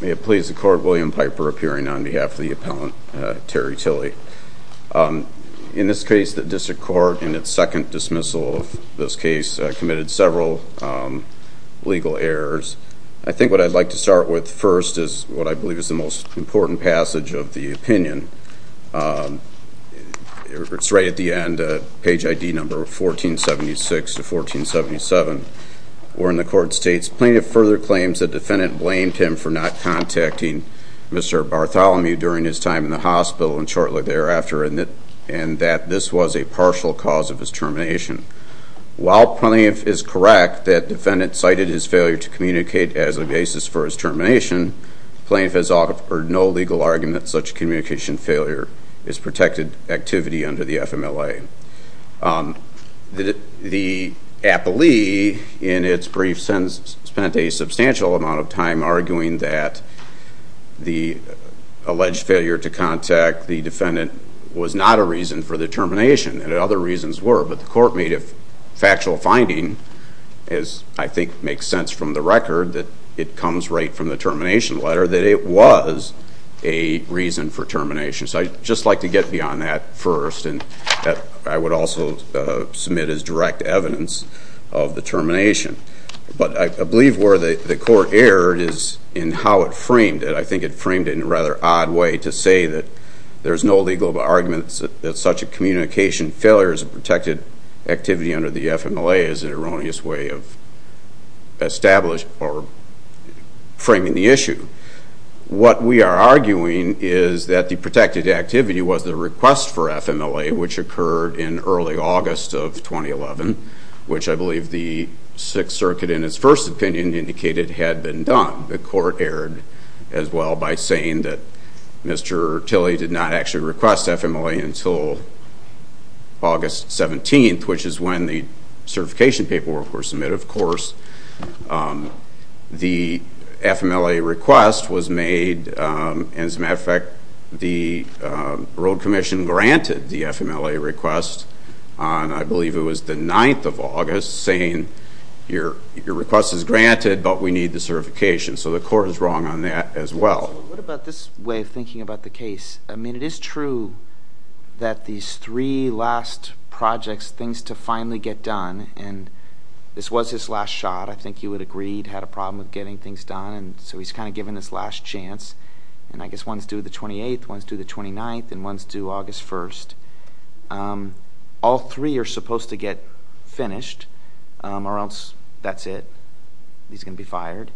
May it please the court, William Piper appearing on behalf of the appellant Terry Tilley. In this case the district court in its second dismissal of this case committed several legal errors. I think what I'd like to start with first is what I believe is the most important passage of the opinion. It's right at the end, page ID number 1476 to 1477 where in the court states plaintiff further claims the defendant blamed him for not contacting Mr. Bartholomew during his time in the hospital and shortly thereafter and that this was a partial cause of his termination. While plaintiff is correct that defendant cited his failure to communicate as a basis for his termination, plaintiff has offered no legal argument such communication failure is protected activity under the FMLA. The appellee in its brief sentence spent a substantial amount of time arguing that the alleged failure to contact the defendant was not a reason for the termination and other reasons were but the court made factual finding as I think makes sense from the record that it comes right from the termination letter that it was a reason for termination. So I'd just like to get beyond that first and I would also submit as direct evidence of the termination. But I believe where the court erred is in how it framed it. I think it framed it in a rather odd way to say that there's no legal arguments that such a communication failure is a protected activity under the FMLA is an erroneous way of established or framing the issue. What we are arguing is that the protected activity was the request for FMLA which occurred in early August of 2011 which I believe the Sixth Circuit in its first opinion indicated had been done. The court erred as well by saying that Mr. Tilly did not actually request FMLA until August 17th which is when the certification paperwork were submitted. Of course the FMLA request was made and as a matter of fact the Road Commission granted the FMLA request on I believe it was the 9th of August saying your request is granted but we need the certification. So the court is wrong on that as well. What about this way of thinking about the case? It's true that these three last projects, things to finally get done and this was his last shot. I think you would agree he had a problem with getting things done so he's kind of given this last chance and I guess one's due the 28th, one's due the 29th and one's due August 1st. All three are supposed to get finished or else that's it. He's going to be fired.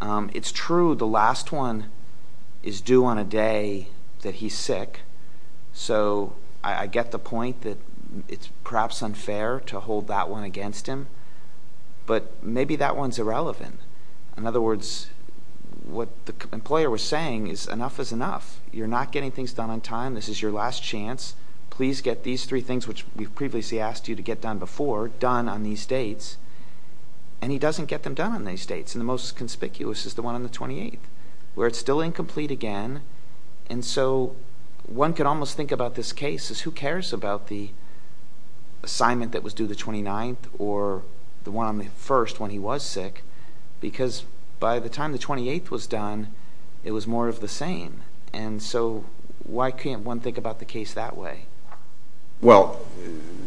It's true the last one is due on a day that he's sick so I get the point that it's perhaps unfair to hold that one against him but maybe that one's irrelevant. In other words what the employer was saying is enough is enough. You're not getting things done on time. This is your last chance. Please get these three things which we've previously asked you to get done before done on these dates and he doesn't get them done on these dates and the most conspicuous is the one on the 28th where it's still incomplete again and so one could almost think about this case as who cares about the assignment that was due the 29th or the one on the 1st when he was sick because by the time the 28th was done it was more of the same and so why can't one think about the case that way? Well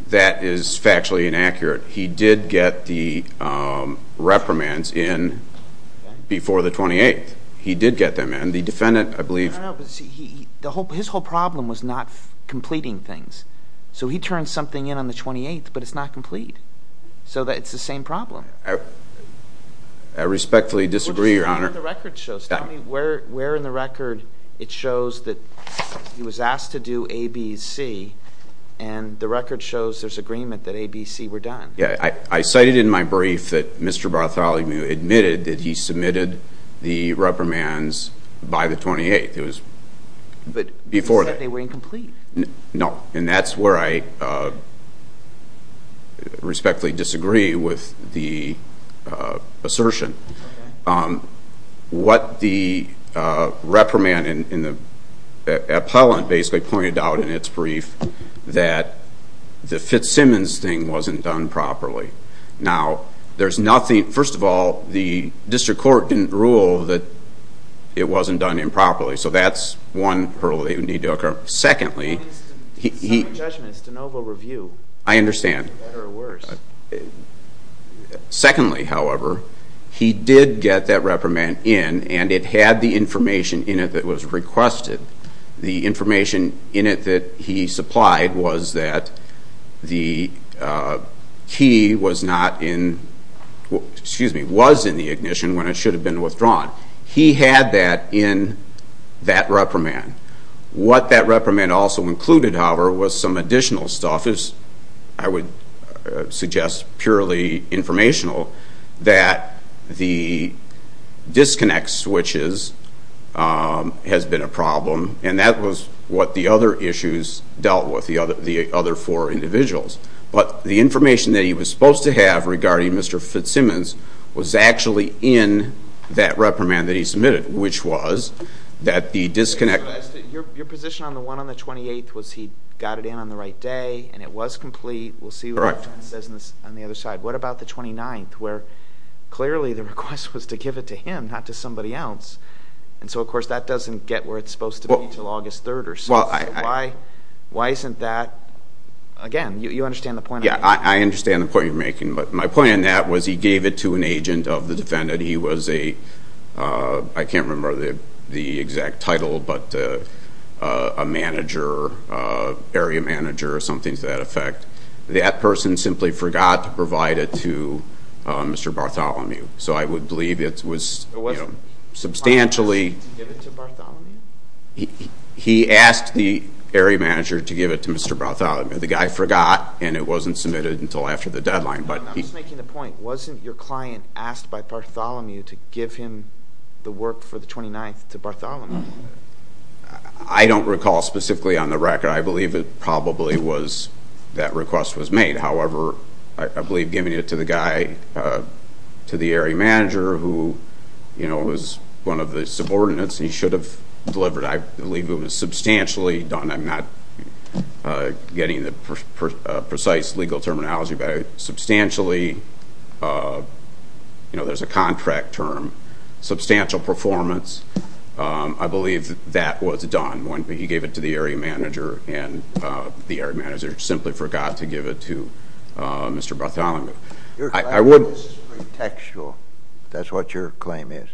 that is factually inaccurate. He did get the reprimands in before the 28th. He did get them in. The defendant I believe... His whole problem was not completing things so he turned something in on the 28th but it's not complete so that it's the same problem. I respectfully disagree your honor. Where in the record it shows that he was asked to do ABC and the record shows there's agreement that ABC were done. Yeah I cited in my brief that Mr. Bartholomew admitted that he submitted the reprimands by the 28th. It was but before that they were incomplete. No and that's where I respectfully disagree with the assertion. What the reprimand in the appellant basically pointed out in its brief that the Fitzsimmons thing wasn't done properly. Now there's nothing, first of all the district court didn't rule that it wasn't done improperly so that's one hurdle that would need to occur. Secondly, I understand. Secondly, however, he did get that reprimand in and it had the information in it that was requested. The information in it that he supplied was that the key was not in, excuse me, was in the ignition when it should have been withdrawn. He had that in that reprimand. What that reprimand also included, however, was some additional stuff as I would suggest purely informational that the disconnect switches has been a problem and that was what the other issues dealt with, the other four individuals. But the information that he was supposed to have regarding Mr. Fitzsimmons was actually in that reprimand that he submitted which was that the disconnect. Your position on the one on the 28th was he got it in on the right day and it was complete. We'll see what happens on the other side. What about the 29th where clearly the request was to give it to him not to somebody else and so of course that doesn't get where it's supposed to be until August 3rd or so. Why isn't that, again you understand the point. Yeah, I understand the point you're making but my point on that was he gave it to an agent of the defendant. He was a, I can't remember the exact title, but a manager, area manager or something to that effect. That person simply forgot to provide it to Mr. Bartholomew. So I would believe it was substantially, he asked the area manager to give it to Mr. Bartholomew. The guy forgot and it wasn't submitted until after the deadline. But I'm just making the point, wasn't your client asked by Bartholomew to give him the work for the 29th to Bartholomew? I don't recall specifically on the record. I believe it probably was that request was made. However, I believe giving it to the guy, to the area manager who, you know, was one of the subordinates, he should have delivered. I believe it was substantially done. I'm not getting the precise legal terminology, but substantially, you know, there's a contract term, substantial performance. I believe that was done when he gave it to the area manager and the area manager simply forgot to give it to Mr. Bartholomew. Your claim is pretextual. That's what your claim is.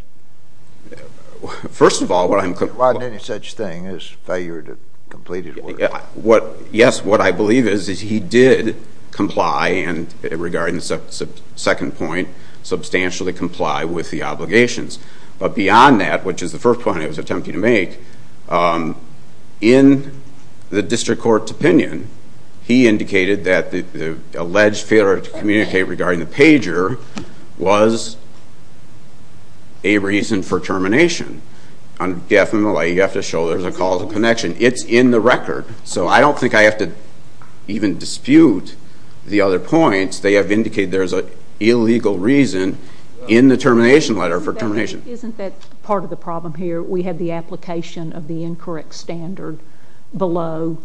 First of all, what I'm... He didn't want any such thing as failure to complete his work. Yes, what I believe is, is he did comply and, regarding the second point, substantially comply with the contract. Beyond that, which is the first point I was attempting to make, in the district court's opinion, he indicated that the alleged failure to communicate regarding the pager was a reason for termination. On the FMLA, you have to show there's a call to connection. It's in the record, so I don't think I have to even dispute the other points. They have indicated there's an illegal reason in the part of the problem here. We had the application of the incorrect standard below.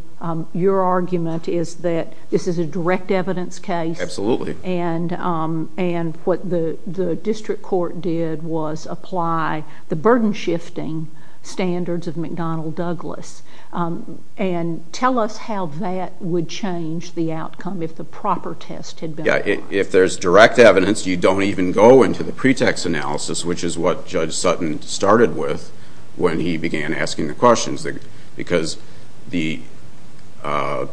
Your argument is that this is a direct evidence case. Absolutely. And what the district court did was apply the burden-shifting standards of McDonnell Douglas. And tell us how that would change the outcome if the proper test had been applied. Yeah, if there's direct evidence, you don't even go into the pretext analysis, which is what Judge Sutton started with when he began asking the questions. Because the other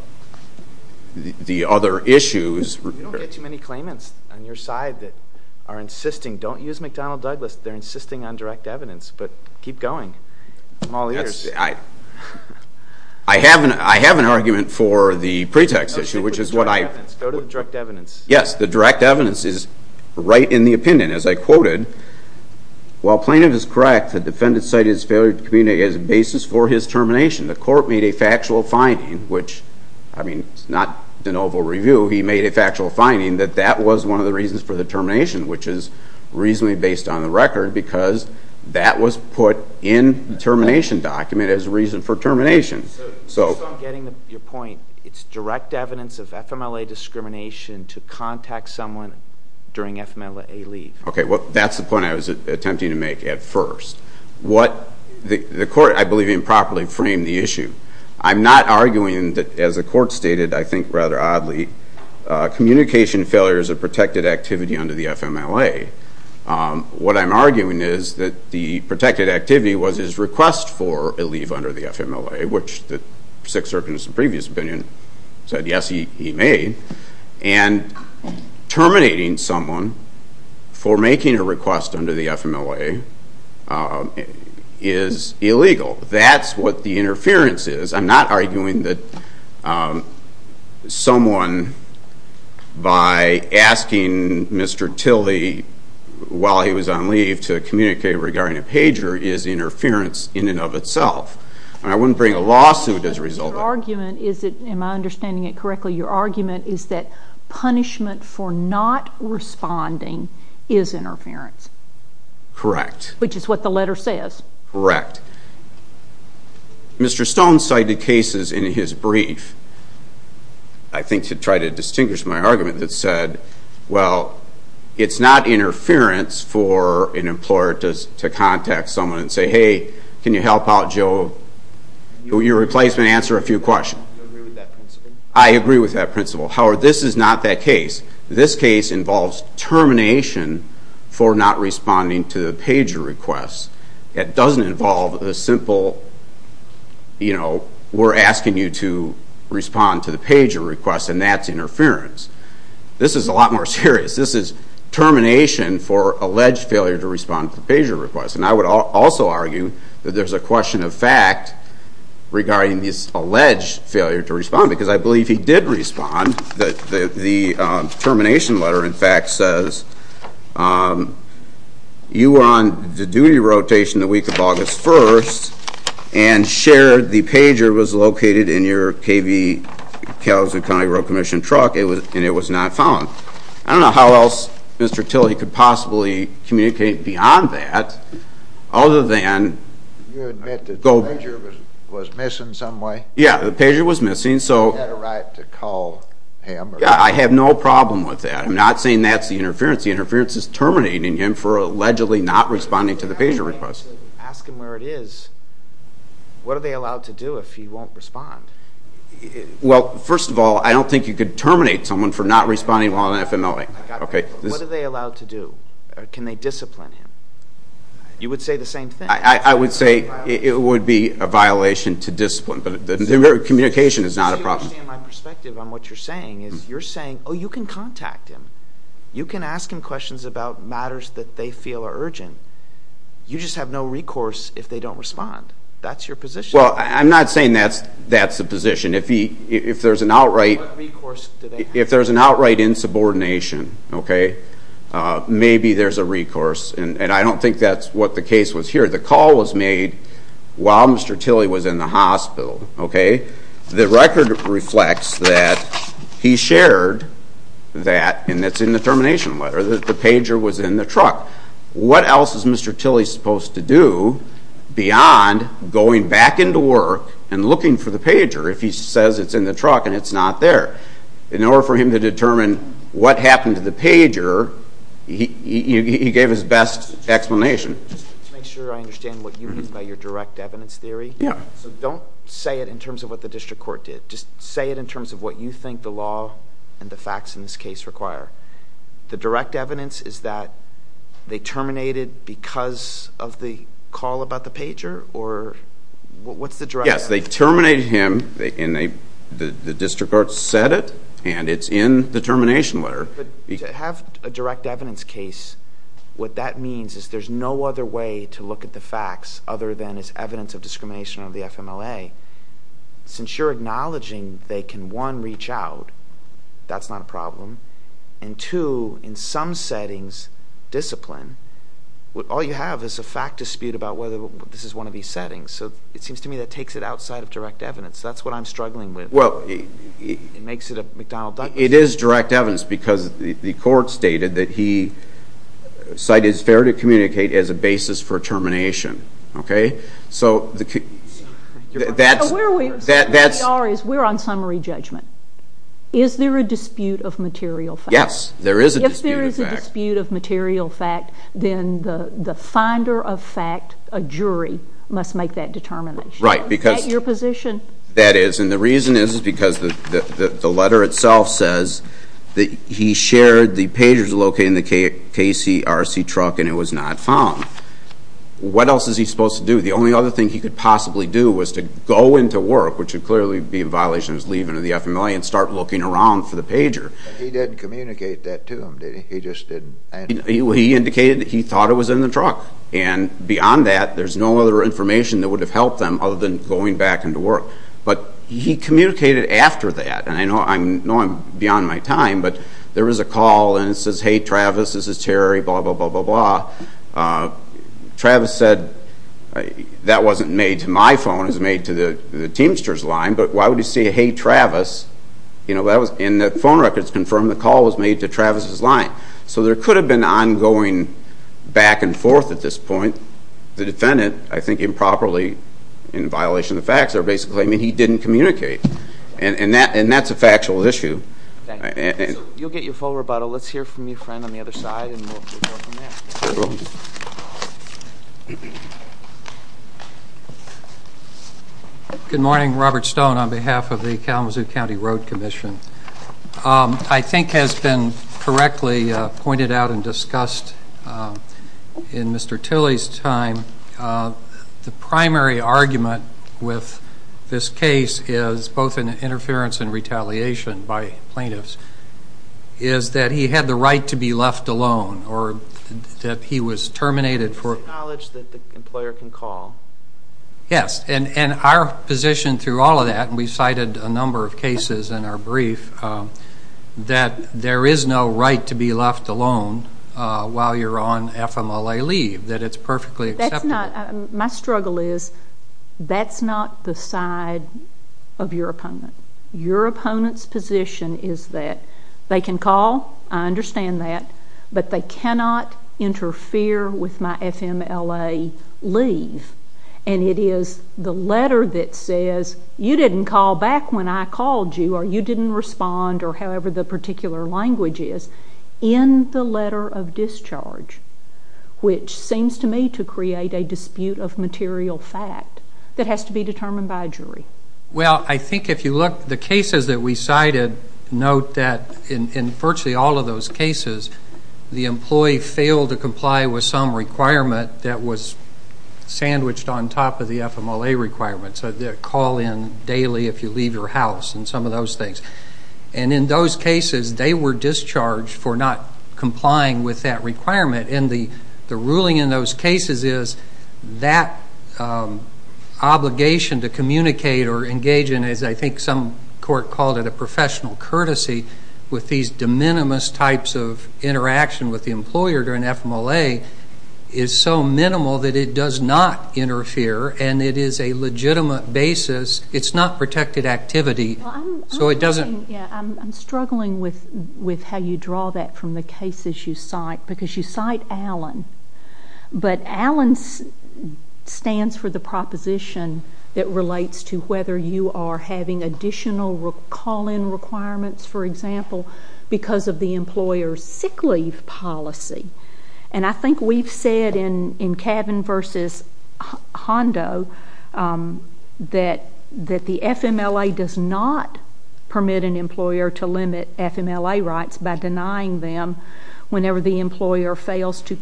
issues... You don't get too many claimants on your side that are insisting, don't use McDonnell Douglas. They're insisting on direct evidence. But keep going. I'm all ears. I have an argument for the pretext issue, which is what I... Go to the direct evidence. Yes, the direct evidence is right in the opinion. As I Well, plaintiff is correct. The defendant cited his failure to communicate as a basis for his termination. The court made a factual finding, which, I mean, it's not de novo review. He made a factual finding that that was one of the reasons for the termination, which is reasonably based on the record, because that was put in the termination document as a reason for termination. So I'm getting your point. It's direct evidence of FMLA discrimination to contact someone during FMLA leave. Okay, well, that's the point I was attempting to make at first. The court, I believe improperly framed the issue. I'm not arguing that, as the court stated, I think rather oddly, communication failure is a protected activity under the FMLA. What I'm arguing is that the protected activity was his request for a leave under the FMLA, which the Sixth Circuit's previous opinion said, yes, he made, and terminating someone for making a request under the FMLA is illegal. That's what the interference is. I'm not arguing that someone, by asking Mr. Tilly while he was on leave to communicate regarding a pager, is interference in and of itself. I wouldn't bring a lawsuit as a result. Am I understanding it correctly? Your argument is that punishment for not responding is interference. Correct. Which is what the letter says. Correct. Mr. Stone cited cases in his brief, I think to try to distinguish my argument, that said, well, it's not interference for an employer to contact someone and say, hey, can you help out, Joe? Your replacement answered a few questions. Do you agree with that principle? I agree with that principle. However, this is not that case. This case involves termination for not responding to the pager request. It doesn't involve a simple, you know, we're asking you to respond to the pager request, and that's interference. This is a lot more serious. This is termination for alleged failure to respond to the pager request. And I would also argue that there's a question of fact regarding this alleged failure to respond, because I believe he did respond. The termination letter, in fact, says you were on the duty rotation the week of August 1st and shared the pager was located in your KV, Kalamazoo County Road Commission truck, and it was not found. I don't know how else Mr. Tilley could possibly communicate beyond that, other than... You admit that the pager was missing some way? Yeah, the pager was missing, so... You had a right to call him? Yeah, I have no problem with that. I'm not saying that's the interference. The interference is terminating him for allegedly not responding to the pager request. Ask him where it is. What are they allowed to do if he won't respond? Well, first of all, I don't think you could What are they allowed to do? Can they discipline him? You would say the same thing. I would say it would be a violation to discipline, but communication is not a problem. If you understand my perspective on what you're saying, is you're saying, oh, you can contact him. You can ask him questions about matters that they feel are urgent. You just have no recourse if they don't respond. That's your position. Well, I'm not saying that's the position. If there's an outright insubordination, maybe there's a recourse, and I don't think that's what the case was here. The call was made while Mr. Tilly was in the hospital. The record reflects that he shared that, and that's in the termination letter, that the pager was in the truck. What else is Mr. Tilly supposed to do beyond going back into work and looking for the pager if he says it's in the truck and it's not there? In order for him to determine what happened to the pager, he gave his best explanation. Just to make sure I understand what you mean by your direct evidence theory. Yeah. So don't say it in terms of what the district court did. Just say it in terms of what you think the law and the facts in this case require. The direct evidence is that they terminated because of the call about the pager, or what's the direct evidence? They terminated him, and the district court said it, and it's in the termination letter. To have a direct evidence case, what that means is there's no other way to look at the facts other than as evidence of discrimination under the FMLA. Since you're acknowledging they can, one, reach out, that's not a problem, and two, in some settings, discipline. All you have is a fact dispute about whether this is one of these settings. It seems to me takes it outside of direct evidence. That's what I'm struggling with. It makes it a McDonald-Dodson. It is direct evidence because the court stated that he cited fair to communicate as a basis for termination. We're on summary judgment. Is there a dispute of material fact? Yes, there is a dispute of fact. If there is a dispute of material fact, then the finder of fact, a jury, must make that determination. At your position. That is, and the reason is because the letter itself says that he shared the pagers located in the KCRC truck, and it was not found. What else is he supposed to do? The only other thing he could possibly do was to go into work, which would clearly be a violation of his leaving of the FMLA, and start looking around for the pager. He didn't communicate that to them, did he? He just didn't. He indicated that he thought it was in the truck, and beyond that, there's no other information that would have helped them other than going back into work. But he communicated after that, and I know I'm beyond my time, but there was a call, and it says, hey, Travis, this is Terry, blah, blah, blah, blah, blah. Travis said, that wasn't made to my phone, it was made to the Teamsters line, but why would you say, hey, Travis? And the phone records confirm the call was made to Travis's line. So there could have been ongoing back and forth at this point. The defendant, I think improperly, in violation of the facts, are basically claiming he didn't communicate, and that's a factual issue. Thank you. So you'll get your full rebuttal. Let's hear from your friend on the other side, and we'll move on from there. Good morning. Robert Stone on behalf of the Kalamazoo County Road Commission. I think has been correctly pointed out and discussed in Mr. Tilley's time, the primary argument with this case is, both in interference and retaliation by plaintiffs, is that he had the right to be left alone, or that he was terminated for- It's the knowledge that the employer can call. Yes, and our position through all of that, and we cited a number of cases in our brief, that there is no right to be left alone while you're on FMLA leave, that it's perfectly acceptable. That's not, my struggle is, that's not the side of your opponent. Your opponent's position is that they can call, I understand that, but they cannot interfere with my FMLA leave. And it is the letter that says, you didn't call back when I called you, or you didn't respond, or however the particular language is, in the letter of discharge, which seems to me to create a dispute of material fact that has to be determined by a jury. Well, I think if you look, the cases that we cited note that in virtually all of those cases, the employee failed to comply with some requirement that was sandwiched on top of the FMLA requirement. So the call in daily if you leave your house, and some of those things. And in those cases, they were discharged for not complying with that requirement. And the ruling in those cases is, that obligation to communicate or engage in, as I think some court called it, a professional courtesy, with these de minimis types of interaction with the employer during FMLA, is so minimal that it does not interfere, and it is a legitimate basis. It's not protected activity, so it doesn't. Yeah, I'm struggling with how you draw that from the cases you cite, because you cite Allen. But Allen stands for the proposition that relates to whether you are having additional call-in requirements, for example, because of the employer's sick leave policy. And I think we've said in Cabin v. Hondo that the FMLA does not permit an employer to limit FMLA rights by denying them whenever the employee fails to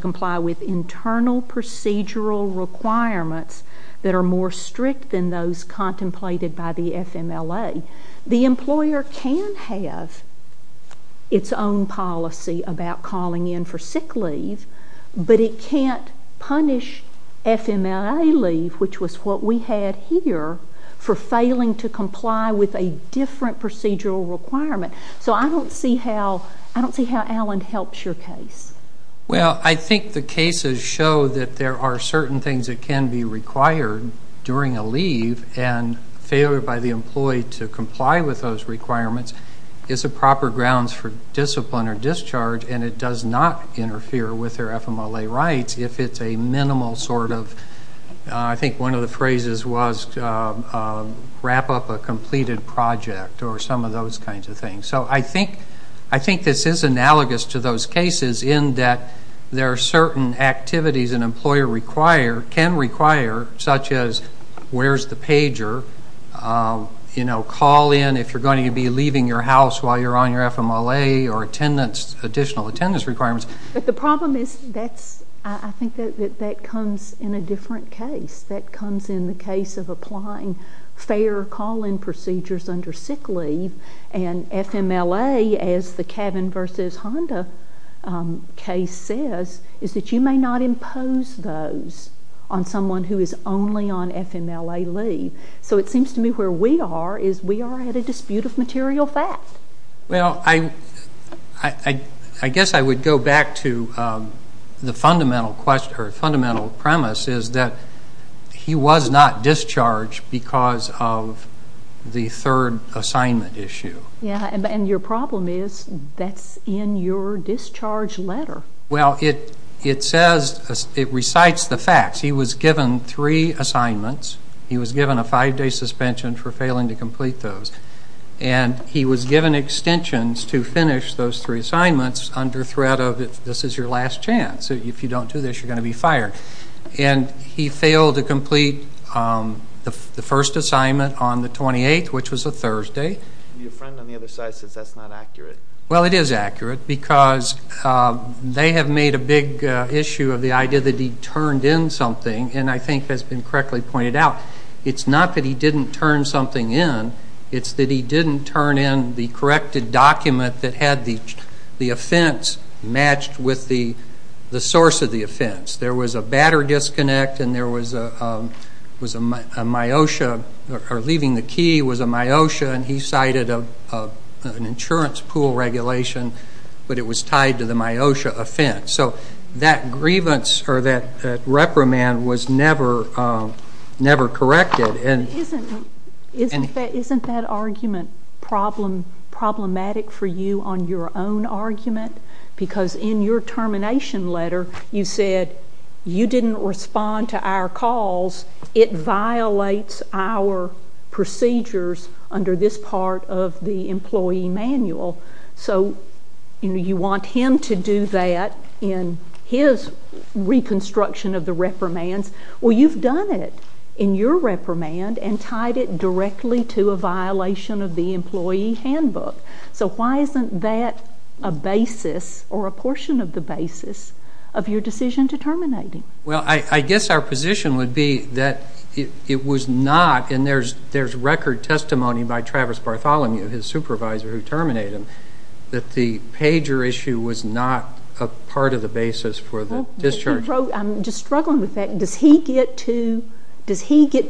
comply with internal procedural requirements that are more strict than those contemplated by the FMLA. The employer can have its own policy about calling in for sick leave, but it can't punish FMLA leave, which was what we had here, for failing to comply with a different procedural requirement. So I don't see how Allen helps your case. Well, I think the cases show that there are certain things that can be required during a leave, and failure by the employee to comply with those requirements is a proper grounds for discipline or discharge, and it does not interfere with their FMLA rights if it's a minimal sort of, I think one of the phrases was, wrap up a completed project, or some of those kinds of things. So I think this is analogous to those cases in that there are certain activities an employer can require, such as where's the pager, call in if you're going to be leaving your house while you're on your FMLA, or attendance, additional attendance requirements. But the problem is, I think that comes in a different case. That comes in the case of applying fair call-in procedures under sick leave, and FMLA, as the cabin versus Honda case says, is that you may not impose those on someone who is only on FMLA leave. So it seems to me where we are is we are at a dispute of material fact. Well, I guess I would go back to the fundamental premise is that he was not discharged because of the third assignment issue. Yeah, and your problem is that's in your discharge letter. Well, it says, it recites the facts. He was given three assignments. He was given a five-day suspension for failing to complete those. And he was given extensions to finish those three assignments under threat of this is your last chance. If you don't do this, you're going to be fired. And he failed to complete the first assignment on the 28th, which was a Thursday. Your friend on the other side says that's not accurate. Well, it is accurate because they have made a big issue of the idea that he turned in something. And I think that's been correctly pointed out. It's not that he didn't turn something in. It's that he didn't turn in the corrected document that had the offense matched with the source of the offense. There was a batter disconnect. And there was a myosha, or leaving the key was a myosha. And he cited an insurance pool regulation. But it was tied to the myosha offense. So that grievance or that reprimand was never corrected. Isn't that argument problematic for you on your own argument? Because in your termination letter, you said you didn't respond to our calls. It violates our procedures under this part of the employee manual. So you want him to do that in his reconstruction of the reprimands. Well, you've done it in your reprimand and tied it directly to a violation of the employee handbook. So why isn't that a basis, or a portion of the basis, of your decision to terminate him? Well, I guess our position would be that it was not, and there's record testimony by Travis Bartholomew, his supervisor who terminated him, that the pager issue was not a part of the basis for the discharge. I'm just struggling with that. Does he get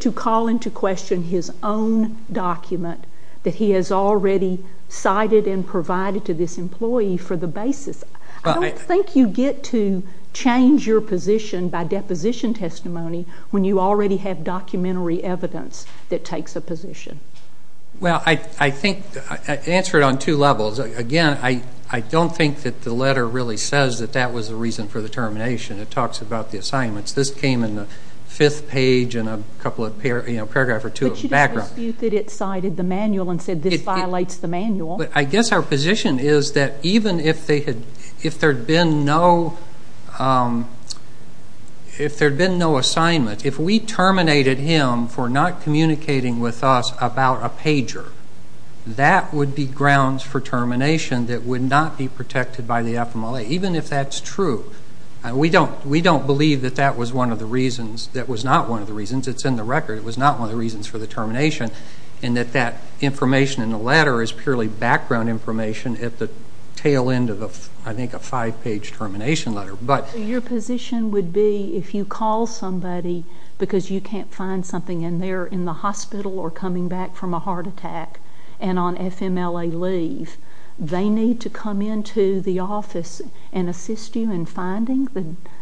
to call into question his own document that he has already cited and provided to this employee for the basis? I don't think you get to change your position by deposition testimony when you already have documentary evidence that takes a position. Well, I think I answer it on two levels. Again, I don't think that the letter really says that that was the reason for the termination. It talks about the assignments. This came in the fifth page and a couple of paragraphs or two of the background. But you dispute that it cited the manual and said this violates the manual. But I guess our position is that even if there had been no assignment, if we terminated him for not communicating with us about a pager, that would be grounds for termination that would not be protected by the FMLA, even if that's true. We don't believe that that was not one of the reasons. It's in the record. It was not one of the reasons for the termination and that that information in the letter is purely background information at the tail end of, I think, a five-page termination letter. But your position would be if you call somebody because you can't find something and they're in the hospital or coming back from a heart attack and on FMLA leave, they need to come into the office and assist you in finding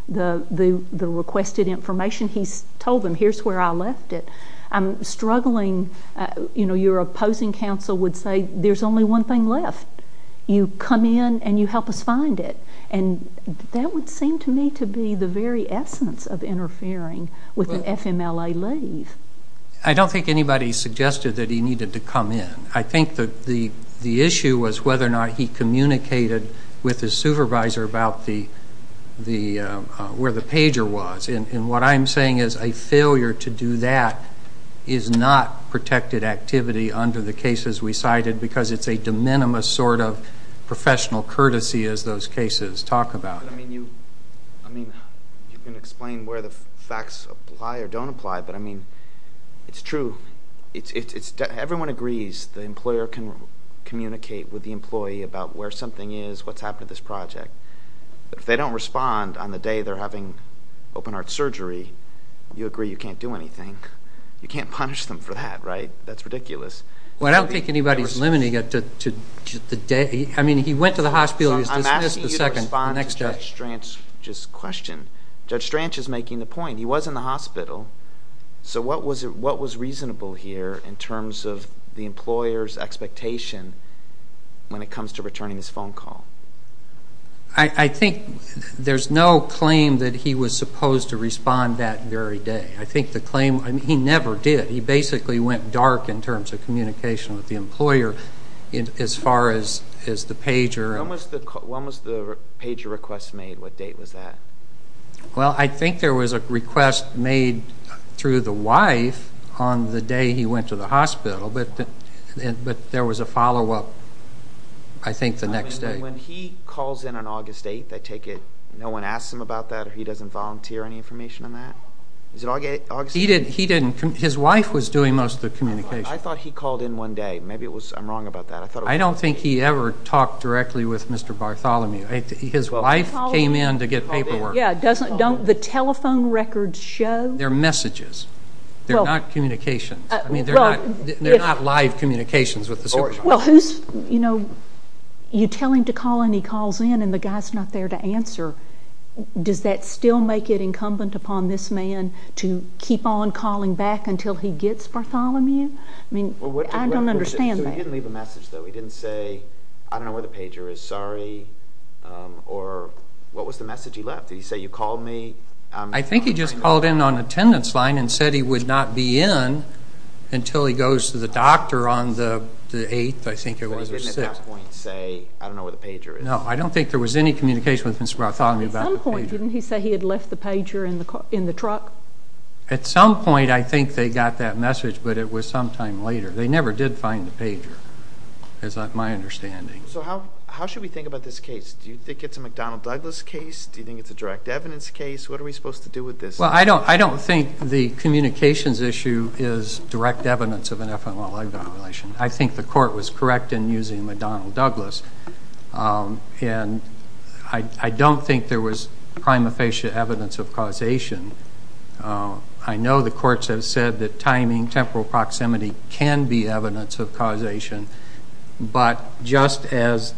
the requested information. He's told them, here's where I left it. I'm struggling. Your opposing counsel would say, there's only one thing left. You come in and you help us find it. And that would seem to me to be the very essence of interfering with an FMLA leave. I don't think anybody suggested that he needed to come in. I think the issue was whether or not he communicated with his supervisor about where the pager was. And what I'm saying is a failure to do that is not protected activity under the cases we cited because it's a de minimis sort of professional courtesy as those cases talk about. I mean, you can explain where the facts apply or don't apply. But I mean, it's true. It's everyone agrees the employer can communicate with the employee about where something is, what's happened to this project. But if they don't respond on the day they're having open heart surgery, you agree you can't do anything. You can't punish them for that, right? That's ridiculous. Well, I don't think anybody's limiting it to the day. I mean, he went to the hospital. He was dismissed the second. I'm asking you to respond to Judge Stranch's question. Judge Stranch is making the point. He was in the hospital. So what was reasonable here in terms of the employer's expectation when it comes to returning his phone call? I think there's no claim that he was supposed to respond that very day. I think the claim, I mean, he never did. He basically went dark in terms of communication with the employer as far as the pager. When was the pager request made? What date was that? Well, I think there was a request made through the wife on the day he went to the hospital. But there was a follow-up, I think, the next day. When he calls in on August 8th, I take it no one asks him about that, or he doesn't volunteer any information on that? He didn't. His wife was doing most of the communication. I thought he called in one day. Maybe I'm wrong about that. I don't think he ever talked directly with Mr. Bartholomew. His wife came in to get paperwork. Yeah, don't the telephone records show? They're messages. They're not communications. I mean, they're not live communications with the supervisor. Well, who's, you know, you tell him to call and he calls in and the guy's not there to answer. Does that still make it incumbent upon this man to keep on calling back until he gets Bartholomew? I mean, I don't understand that. He didn't leave a message, though. He didn't say, I don't know where the pager is, sorry. Or what was the message he left? Did he say, you called me? I think he just called in on attendance line and said he would not be in until he goes to the doctor on the 8th, I think it was. But he didn't at that point say, I don't know where the pager is. No, I don't think there was any communication with Mr. Bartholomew about the pager. At some point, didn't he say he had left the pager in the truck? At some point, I think they got that message, but it was sometime later. They never did find the pager. It's not my understanding. So how should we think about this case? Do you think it's a McDonnell-Douglas case? Do you think it's a direct evidence case? What are we supposed to do with this? Well, I don't think the communications issue is direct evidence of an FMLI violation. I think the court was correct in using McDonnell-Douglas. And I don't think there was prima facie evidence of causation. I know the courts have said that timing, temporal proximity can be evidence of causation. But just as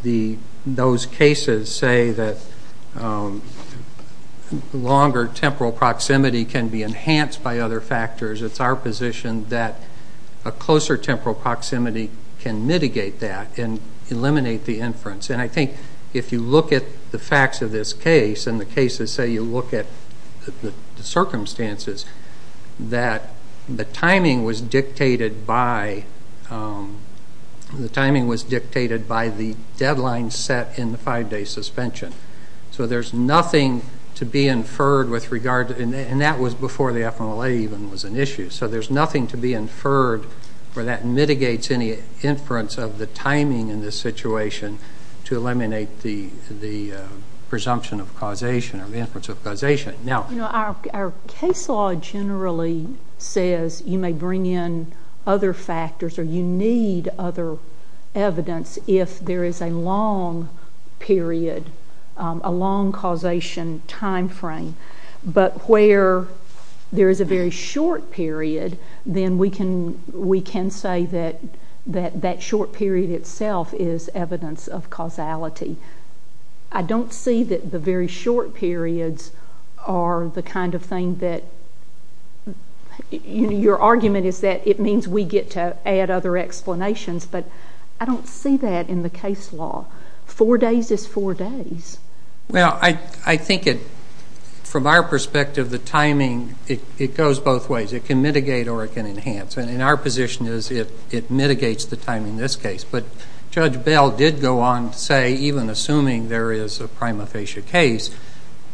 those cases say that longer temporal proximity can be enhanced by other factors, it's our position that a closer temporal proximity can mitigate that and eliminate the inference. And I think if you look at the facts of this case, and the cases say you look at the circumstances, that the timing was dictated by the deadline set in the five-day suspension. So there's nothing to be inferred with regard to it. And that was before the FMLI even was an issue. So there's nothing to be inferred where that mitigates any inference of the timing in this situation to eliminate the presumption of causation or the inference of causation. Our case law generally says you may bring in other factors or you need other evidence if there is a long period, a long causation time frame. But where there is a very short period, then we can say that that short period itself is evidence of causality. I don't see that the very short periods are the kind of thing that your argument is that it means we get to add other explanations. But I don't see that in the case law. Four days is four days. Well, I think from our perspective, the timing, it goes both ways. It can mitigate or it can enhance. And our position is it mitigates the timing in this case. But Judge Bell did go on to say, even assuming there is a prima facie case,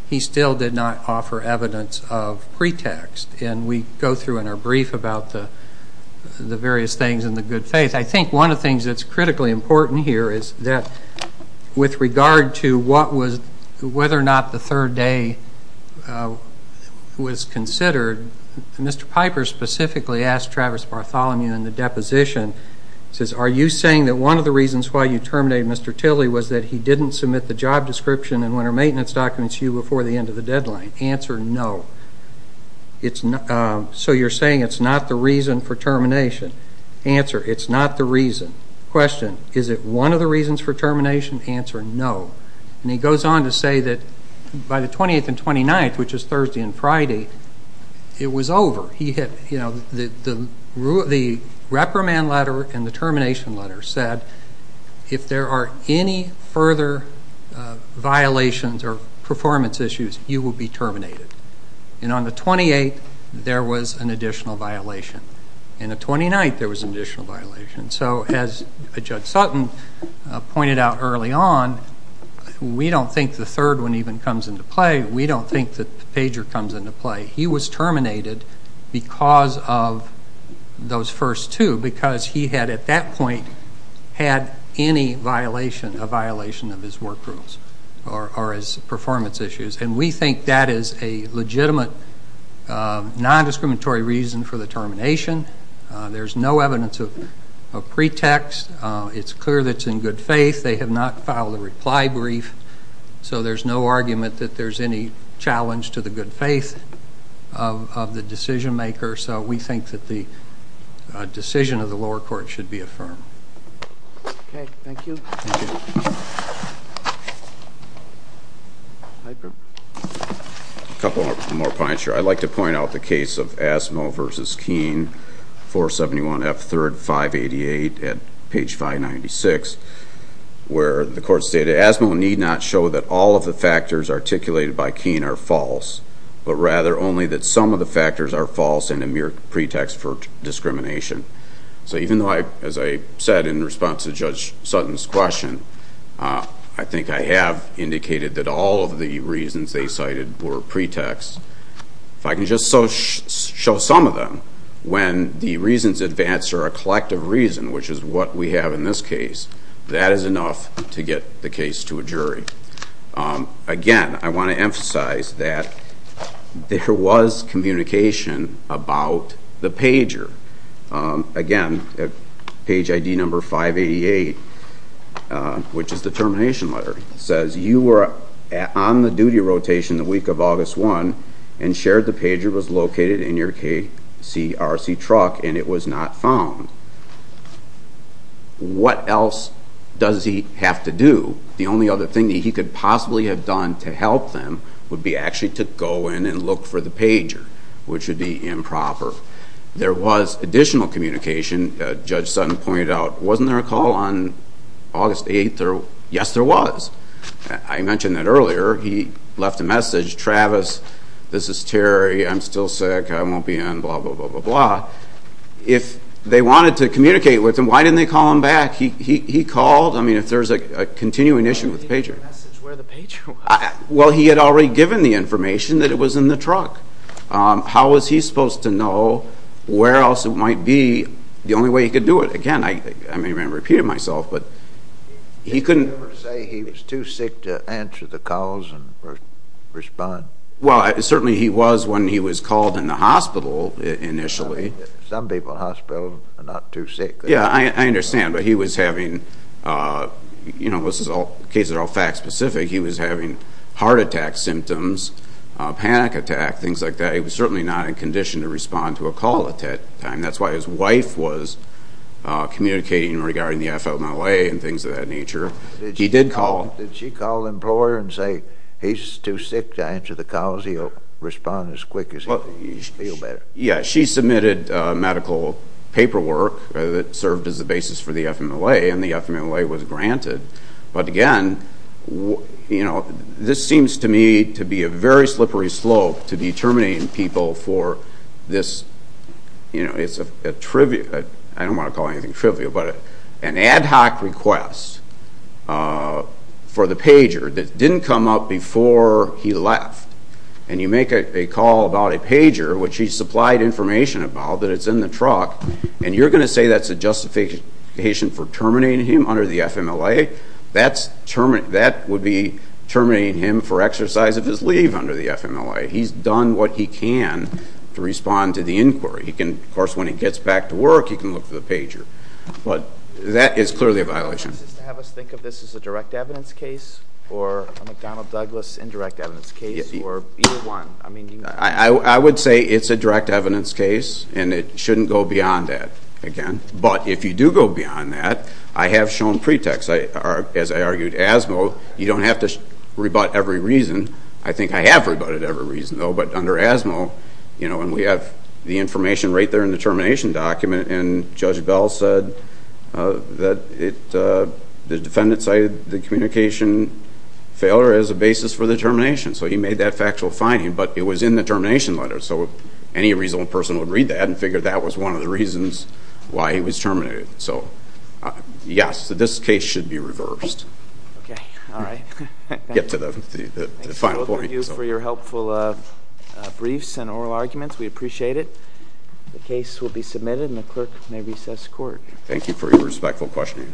he still did not offer evidence of pretext. And we go through in our brief about the various things in the good faith. I think one of the things that's critically important here is that with regard to whether or not the third day was considered, Mr. Piper specifically asked Travis Bartholomew in the one of the reasons why you terminated Mr. Tilley was that he didn't submit the job description and winter maintenance documents to you before the end of the deadline. Answer, no. So you're saying it's not the reason for termination. Answer, it's not the reason. Question, is it one of the reasons for termination? Answer, no. And he goes on to say that by the 28th and 29th, which is Thursday and Friday, it was over. The reprimand letter and the termination letter said if there are any further violations or performance issues, you will be terminated. And on the 28th, there was an additional violation. And the 29th, there was an additional violation. So as Judge Sutton pointed out early on, we don't think the third one even comes into play. We don't think that the pager comes into play. He was terminated because of those first two, because he had, at that point, had any violation, a violation of his work rules or his performance issues. And we think that is a legitimate, non-discriminatory reason for the termination. There's no evidence of pretext. It's clear that it's in good faith. They have not filed a reply brief. So there's no argument that there's any challenge to the good faith. of the decision maker. So we think that the decision of the lower court should be affirmed. Okay. Thank you. Thank you. A couple more points here. I'd like to point out the case of Asmo versus Keene, 471 F3rd 588 at page 596, where the court stated, Asmo need not show that all of the factors articulated by Keene are false, but rather only that some of the factors are false and a mere pretext for discrimination. So even though, as I said in response to Judge Sutton's question, I think I have indicated that all of the reasons they cited were pretexts. If I can just show some of them, when the reasons advance are a collective reason, which is what we have in this case, that is enough to get the case to a jury. Again, I want to emphasize that there was communication about the pager. Again, page ID number 588, which is the termination letter, says you were on the duty rotation the week of August 1 and shared the pager was located in your KCRC truck and it was not found. What else does he have to do? The only other thing that he could possibly have done to help them would be actually to go in and look for the pager, which would be improper. There was additional communication. Judge Sutton pointed out, wasn't there a call on August 8? Yes, there was. I mentioned that earlier. He left a message, Travis, this is Terry. I'm still sick. I won't be in, blah, blah, blah, blah, blah. If they wanted to communicate with him, why didn't they call him back? He called. If there's a continuing issue with the pager. Why didn't he leave a message where the pager was? Well, he had already given the information that it was in the truck. How was he supposed to know where else it might be? The only way he could do it. Again, I may have repeated myself, but he couldn't. Did he ever say he was too sick to answer the calls and respond? Well, certainly he was when he was called in the hospital initially. Some people in the hospital are not too sick. Yeah, I understand, but he was having, you know, this is all, cases are all fact specific. He was having heart attack symptoms, panic attack, things like that. He was certainly not in condition to respond to a call at that time. That's why his wife was communicating regarding the FMLA and things of that nature. He did call. Did she call the employer and say he's too sick to answer the calls? He'll respond as quick as he feels better. Yeah, she submitted medical paperwork that served as a basis for the FMLA, and the FMLA was granted. But again, you know, this seems to me to be a very slippery slope to determining people for this, you know, it's a trivial, I don't want to call anything trivial, but an ad hoc request for the pager that didn't come up before he left. And you make a call about a pager, which he supplied information about, that it's in the truck, and you're going to say that's a justification for terminating him under the FMLA? That would be terminating him for exercise of his leave under the FMLA. He's done what he can to respond to the inquiry. He can, of course, when he gets back to work, he can look for the pager. But that is clearly a violation. Do you want us to think of this as a direct evidence case or a McDonnell Douglas indirect evidence case? Or either one? I would say it's a direct evidence case, and it shouldn't go beyond that, again. But if you do go beyond that, I have shown pretext, as I argued, ASMO, you don't have to rebut every reason. I think I have rebutted every reason, though. But under ASMO, you know, and we have the information right there in the termination document, and Judge Bell said that the defendant cited the communication failure as a basis for the termination. So he made that factual finding, but it was in the termination letter. So any reasonable person would read that and figure that was one of the reasons why he was terminated. So yes, this case should be reversed. Okay, all right. Get to the final point. Thank you for your helpful briefs and oral arguments. We appreciate it. The case will be submitted, and the clerk may recess court. Thank you for your respectful questioning.